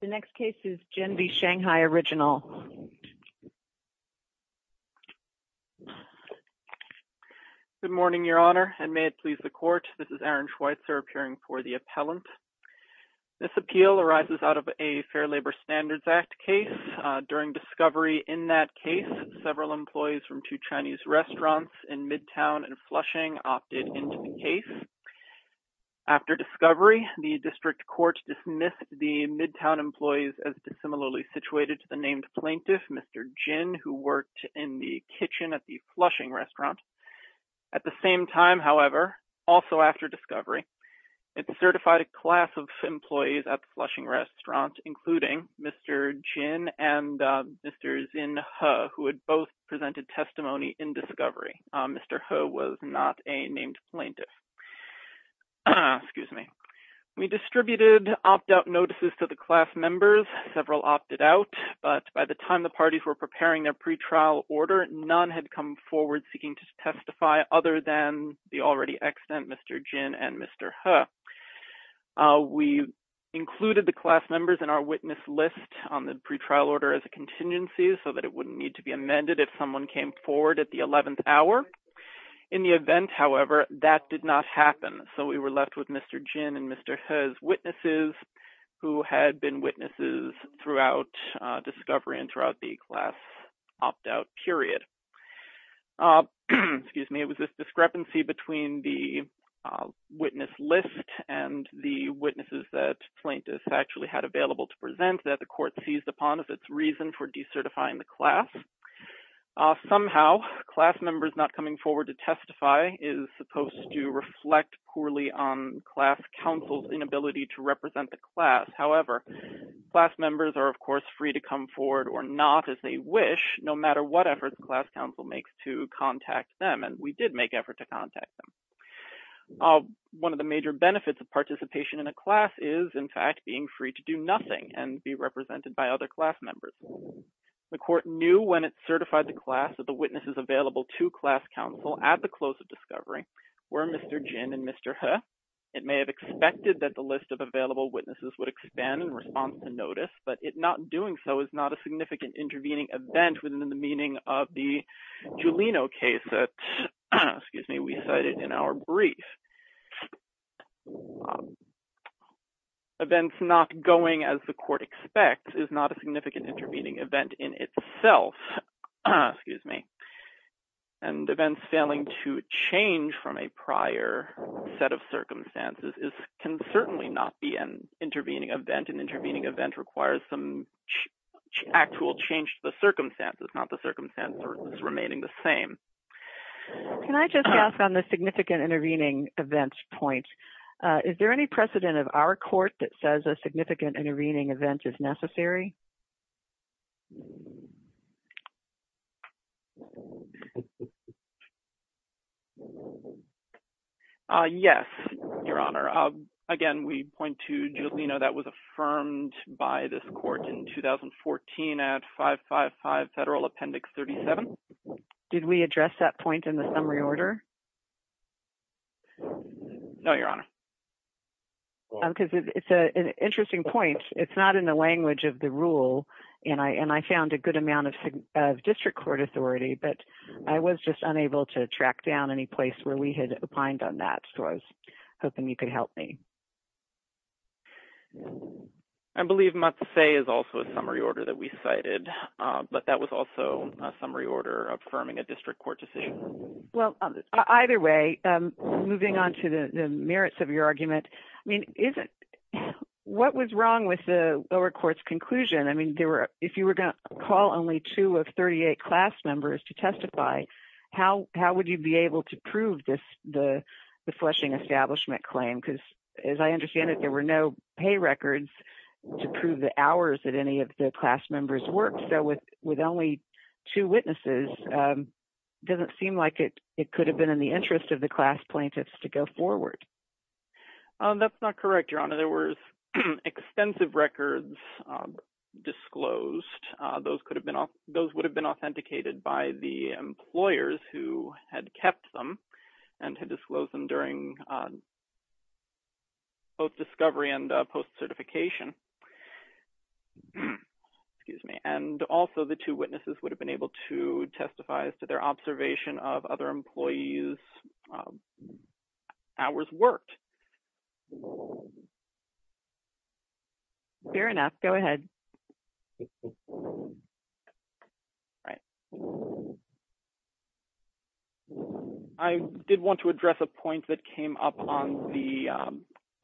The next case is Jen v. Shanghai Original. Good morning, Your Honor, and may it please the Court, this is Aaron Schweitzer appearing for the appellant. This appeal arises out of a Fair Labor Standards Act case. During discovery in that case, several employees from two Chinese restaurants in Midtown and Flushing opted into the case. After discovery, the District Court dismissed the Midtown employees as dissimilarly situated to the named plaintiff, Mr. Jin, who worked in the kitchen at the Flushing restaurant. At the same time, however, also after discovery, it certified a class of employees at the Flushing restaurant, including Mr. Jin and Mr. Xin He, who had both presented testimony in discovery. Mr. He was not a named plaintiff. We distributed opt-out notices to the class members. Several opted out, but by the time the parties were preparing their pretrial order, none had come forward seeking to testify other than the already extant Mr. Jin and Mr. He. We included the class members in our witness list on the pretrial order as a contingency so that it wouldn't need to be amended if someone came forward at the 11th hour. In the event, however, that did not happen, so we were left with Mr. Jin and Mr. He's witnesses, who had been witnesses throughout discovery and throughout the class opt-out period. It was this discrepancy between the witness list and the witnesses that plaintiffs actually had available to present that the court seized upon as its reason for decertifying the class. Somehow, class members not coming forward to testify is supposed to reflect poorly on class counsel's inability to represent the class. However, class members are, of course, free to come forward or not as they wish, no matter what efforts class counsel makes to contact them, and we did make effort to contact them. One of the major benefits of participation in a class is, in fact, being free to do nothing and be represented by other class members. The court knew when it certified the class that the witnesses available to class counsel at the close of discovery were Mr. Jin and Mr. He. It may have expected that the list of available witnesses would expand in response to notice, but it not doing so is not a significant intervening event within the meaning of the Julino case that we cited in our brief. Events not going as the court expects is not a significant intervening event in itself, and events failing to change from a prior set of circumstances can certainly not be an intervening event. An intervening event requires some actual change to the circumstances, not the circumstances remaining the same. Can I just ask on the significant intervening events point, is there any precedent of our court that says a significant intervening event is necessary? Yes, Your Honor. Again, we point to Julino that was affirmed by this court in 2014 at 555 Federal Appendix 37. Did we address that point in the summary order? No, Your Honor. Because it's an interesting point. It's not in the language of the rule, and I found a good amount of district court authority, but I was just unable to track down any place where we had opined on that, so I was hoping you could help me. I believe Matse is also a summary order that we cited, but that was also a summary order affirming a district court decision. Well, either way, moving on to the merits of your argument, what was wrong with the lower court's conclusion? I mean, if you were going to call only two of 38 class members to testify, how would you be able to prove the fleshing establishment claim? Because as I understand it, there were no pay records to prove the hours that any of the class members worked. So with only two witnesses, it doesn't seem like it could have been in the interest of the class plaintiffs to go forward. That's not correct, Your Honor. There were extensive records disclosed. Those would have been authenticated by the employers who had kept them and had disclosed them during both discovery and post-certification. And also the two witnesses would have been able to testify as to their observation of other employees' hours worked. Fair enough. Go ahead. All right. I did want to address a point that came up on the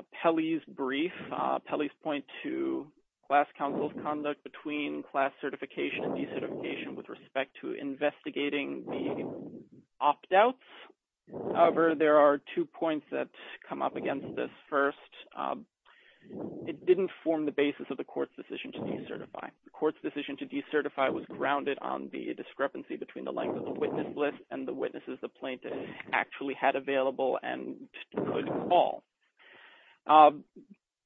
appellee's brief. Appellee's point to class counsel's conduct between class certification and decertification with respect to investigating the opt-outs. However, there are two points that come up against this. First, it didn't form the basis of the court's decision to decertify. The court's decision to decertify was grounded on the discrepancy between the length of the witness list and the witnesses the plaintiff actually had available and could call.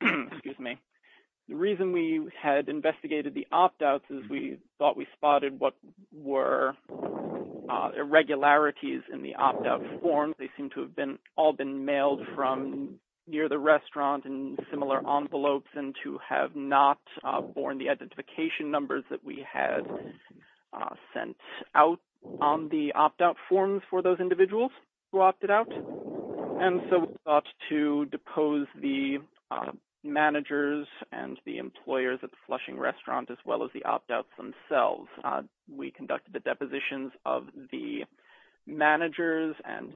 The reason we had investigated the opt-outs is we thought we spotted what were irregularities in the opt-out form. They seem to have all been mailed from near the restaurant in similar envelopes and to have not borne the identification numbers that we had sent out on the opt-out forms for those individuals who opted out. And so we thought to depose the managers and the employers at the Flushing restaurant as well as the opt-outs themselves. We conducted the depositions of the managers and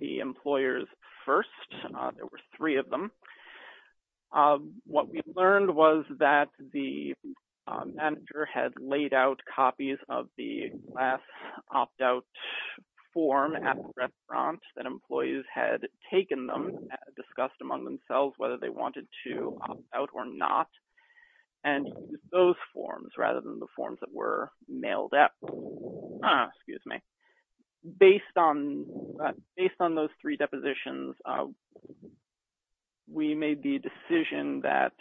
the employers first. There were three of them. What we learned was that the manager had laid out copies of the last opt-out form at the restaurant that employees had taken them, discussed among themselves whether they wanted to opt out or not, and those forms rather than the forms that were mailed up. Based on those three depositions, we made the decision that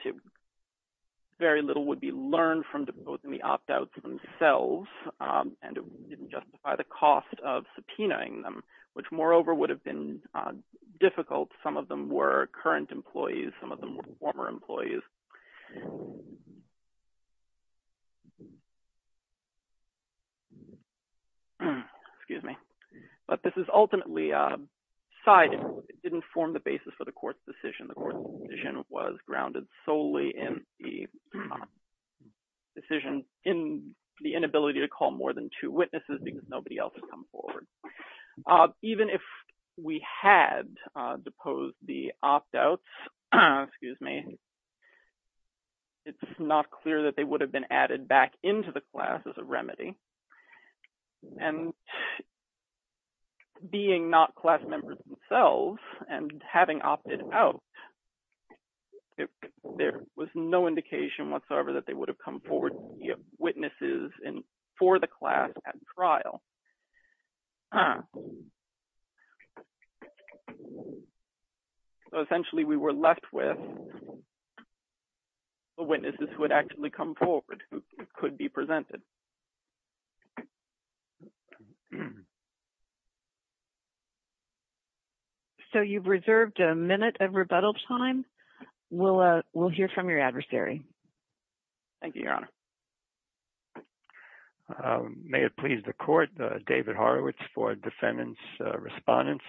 very little would be learned from deposing the opt-outs themselves, and it didn't justify the cost of subpoenaing them, which moreover would have been difficult. Some of them were current employees. Some of them were former employees. But this is ultimately sided. It didn't form the basis for the court's decision. The court's decision was grounded solely in the decision in the inability to call more than two witnesses because nobody else had come forward. Even if we had deposed the opt-outs, it's not clear that they would have been added back into the class as a remedy, and being not class members themselves and having opted out, there was no indication whatsoever that they would have come forward, witnesses for the class at trial. So essentially we were left with witnesses who had actually come forward who could be presented. So you've reserved a minute of rebuttal time. We'll hear from your adversary. May it please the court, David Horowitz for defendants' respondents.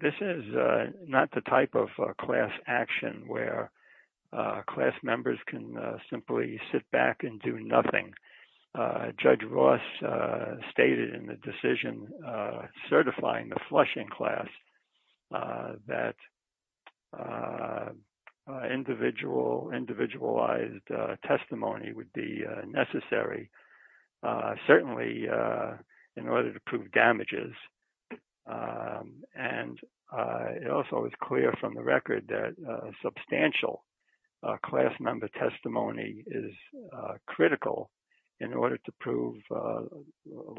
This is not the type of class action where class members can simply sit back and do nothing. Judge Ross stated in the decision certifying the flushing class that individualized testimony would be necessary, certainly in order to prove damages. And it also is clear from the record that substantial class member testimony is critical in order to prove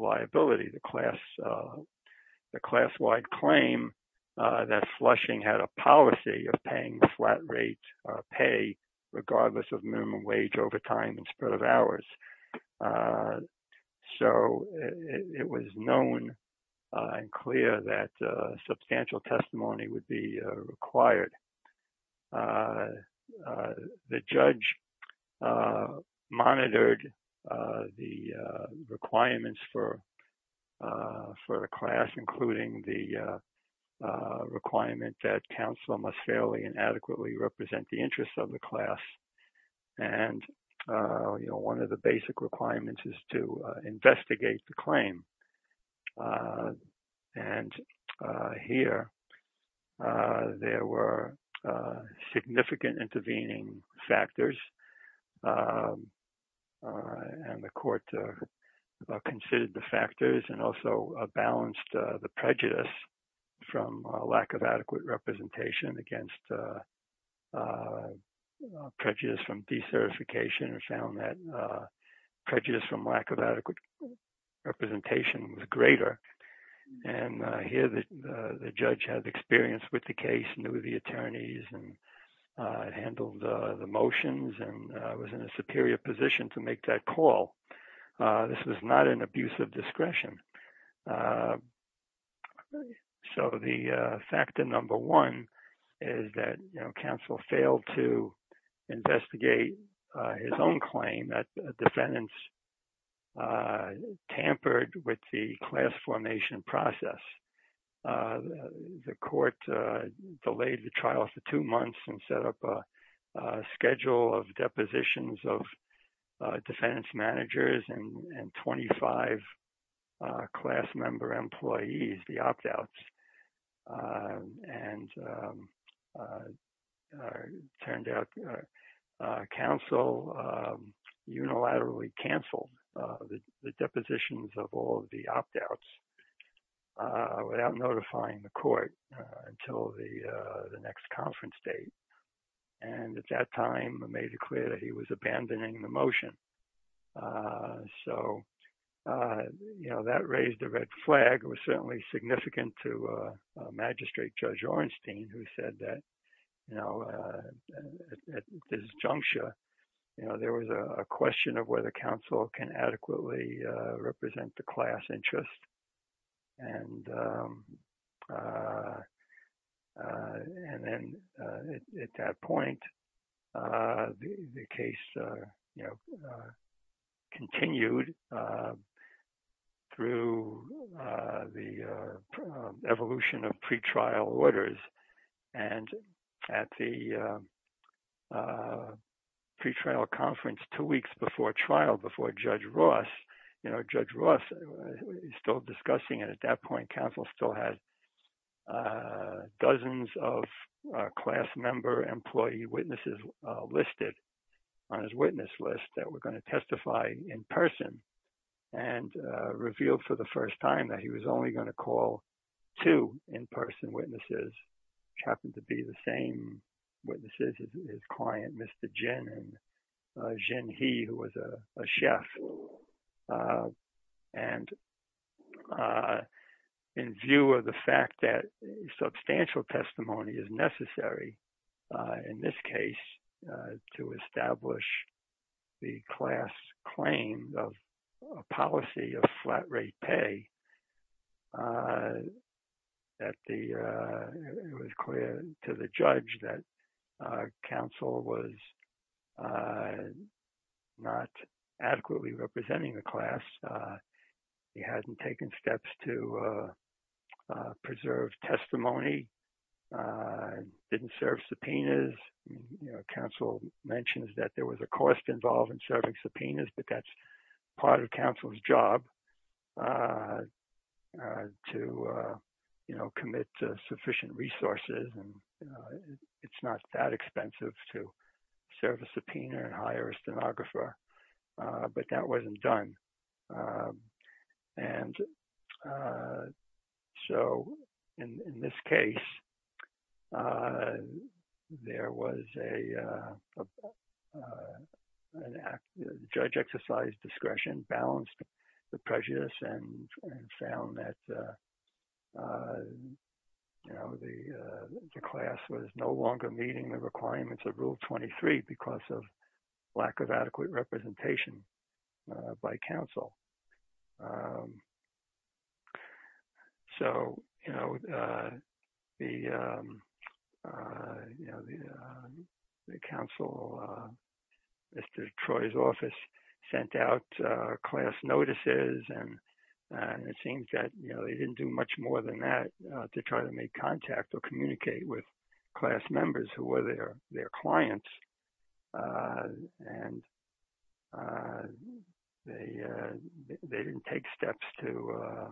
liability. The class-wide claim that flushing had a policy of paying the flat rate pay regardless of minimum wage overtime and spread of hours. So it was known and clear that substantial testimony would be required. The judge monitored the requirements for the class, including the requirement that counsel must fairly and adequately represent the interests of the class. And one of the basic requirements is to investigate the claim. And here there were significant intervening factors and the court considered the factors and also balanced the prejudice from lack of adequate representation against prejudice from decertification. And found that prejudice from lack of adequate representation was greater. And here the judge had experience with the case, knew the attorneys and handled the motions and was in a superior position to make that call. This was not an abuse of discretion. So the factor number one is that counsel failed to investigate his own claim that defendants tampered with the class formation process. The court delayed the trial for two months and set up a schedule of depositions of defendants managers and 25 class member employees, the opt outs. And turned out counsel unilaterally canceled the depositions of all the opt outs. Without notifying the court until the next conference date. And at that time made it clear that he was abandoning the motion. So, you know, that raised a red flag was certainly significant to magistrate Judge Ornstein, who said that, you know, at this juncture, you know, there was a question of whether counsel can adequately represent the class interest. And then at that point, the case, you know, continued through the evolution of pretrial orders. And at the pretrial conference two weeks before trial before Judge Ross, you know, Judge Ross is still discussing it at that point. Counsel still has dozens of class member employee witnesses listed on his witness list that we're going to testify in person and revealed for the first time that he was only going to call to in-person witnesses, which happened to be the same witnesses, his client, Mr. Jen, he was a chef. And in view of the fact that substantial testimony is necessary in this case to establish the class claim of policy of flat rate pay. At the it was clear to the judge that counsel was not adequately representing the class. He hadn't taken steps to preserve testimony, didn't serve subpoenas. Counsel mentions that there was a cost involved in serving subpoenas, but that's part of counsel's job to, you know, commit sufficient resources. And it's not that expensive to serve a subpoena and hire a stenographer, but that wasn't done. And so in this case, there was a judge exercise discretion balanced the prejudice and found that, you know, the class was no longer meeting the requirements of Rule 23 because of lack of adequate representation by counsel. So, you know, the, you know, the counsel, Mr. Troy's office sent out class notices and it seems that, you know, they didn't do much more than that to try to make contact or communicate with class members who were there, their clients. And they didn't take steps to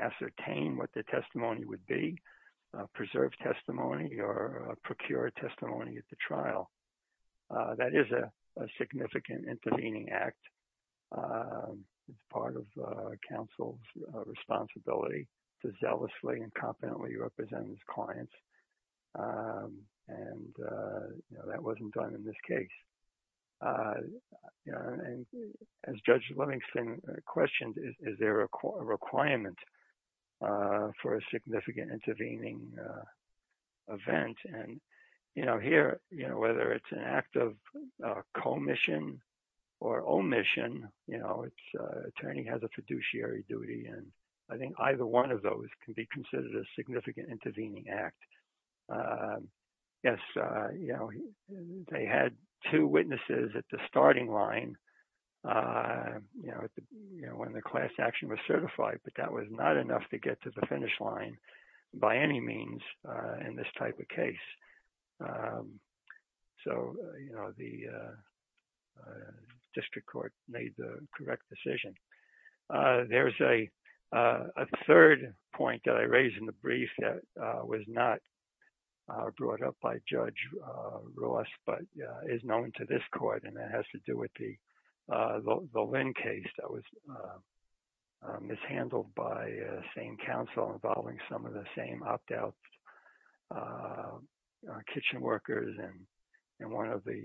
ascertain what the testimony would be preserved testimony or procure testimony at the trial. That is a significant intervening act as part of counsel's responsibility to zealously and competently represent his clients. And that wasn't done in this case. And as Judge Livingston questioned, is there a requirement for a significant intervening event? And, you know, here, you know, whether it's an act of commission or omission, you know, attorney has a fiduciary duty. And I think either one of those can be considered a significant intervening act. Yes, you know, they had two witnesses at the starting line, you know, when the class action was certified, but that was not enough to get to the finish line by any means in this type of case. So, you know, the district court made the correct decision. There's a third point that I raised in the brief that was not brought up by Judge Ross, but is known to this court. And that has to do with the Lynn case that was mishandled by the same counsel involving some of the same outdoubts, kitchen workers, and one of the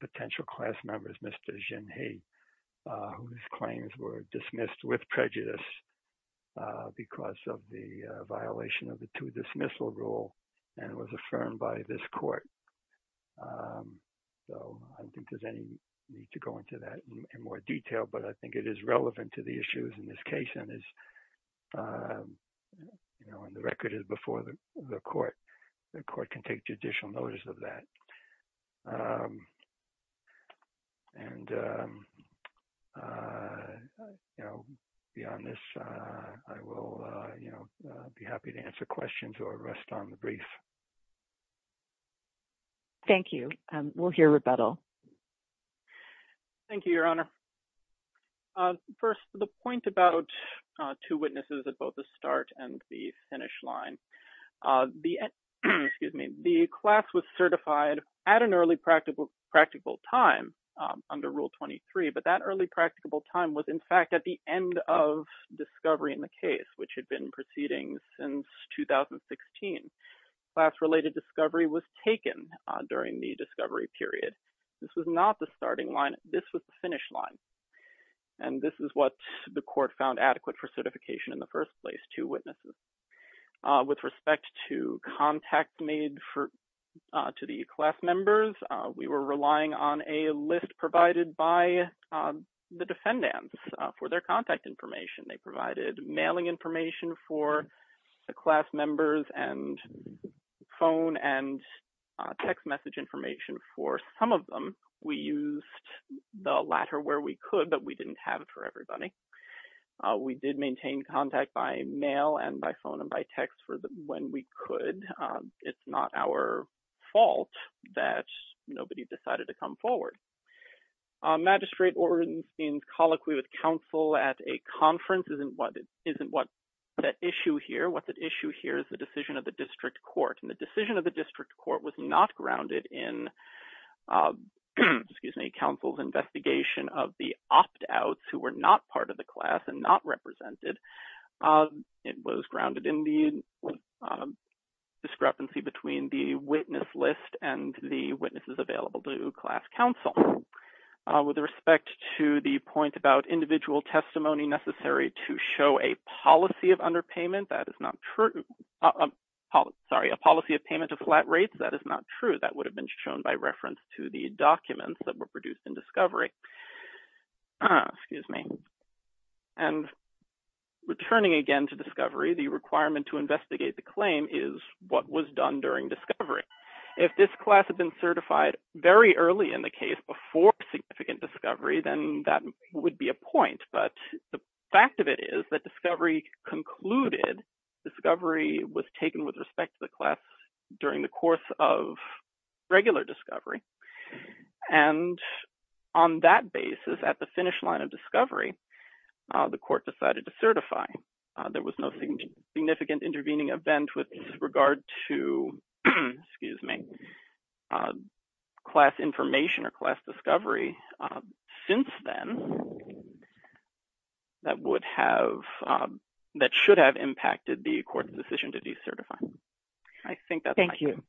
potential class members, Mr. Jin He, whose claims were dismissed with prejudice because of the violation of the two dismissal rule and was affirmed by this court. So, I don't think there's any need to go into that in more detail, but I think it is relevant to the issues in this case and is, you know, and the record is before the court, the court can take judicial notice of that. And, you know, beyond this, I will, you know, be happy to answer questions or rest on the brief. Thank you. We'll hear rebuttal. Thank you, Your Honor. First, the point about two witnesses at both the start and the finish line. The, excuse me, the class was certified at an early practical time under Rule 23, but that early practicable time was in fact at the end of discovery in the case, which had been proceeding since 2016. Class-related discovery was taken during the discovery period. This was not the starting line. This was the finish line. And this is what the court found adequate for certification in the first place, two witnesses. With respect to contact made for, to the class members, we were relying on a list provided by the defendants for their contact information. They provided mailing information for the class members and phone and text message information for some of them. We used the latter where we could, but we didn't have it for everybody. We did maintain contact by mail and by phone and by text for when we could. It's not our fault that nobody decided to come forward. Magistrate Ornstein's colloquy with counsel at a conference isn't what the issue here. What the issue here is the decision of the district court. And the decision of the district court was not grounded in, excuse me, counsel's investigation of the opt-outs who were not part of the class and not represented. It was grounded in the discrepancy between the witness list and the witnesses available to class counsel. With respect to the point about individual testimony necessary to show a policy of underpayment, that is not true. Sorry, a policy of payment of flat rates, that is not true. That would have been shown by reference to the documents that were produced in discovery. Excuse me. And returning again to discovery, the requirement to investigate the claim is what was done during discovery. If this class had been certified very early in the case before significant discovery, then that would be a point. But the fact of it is that discovery concluded, discovery was taken with respect to the class during the course of regular discovery. And on that basis, at the finish line of discovery, the court decided to certify. There was no significant intervening event with regard to, excuse me, class information or class discovery since then that would have, that should have impacted the court's decision to decertify. Thank you.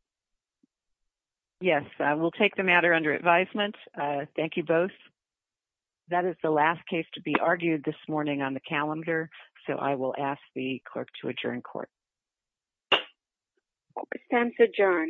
Yes, I will take the matter under advisement. Thank you both. That is the last case to be argued this morning on the calendar. So I will ask the clerk to adjourn court. Court is adjourned.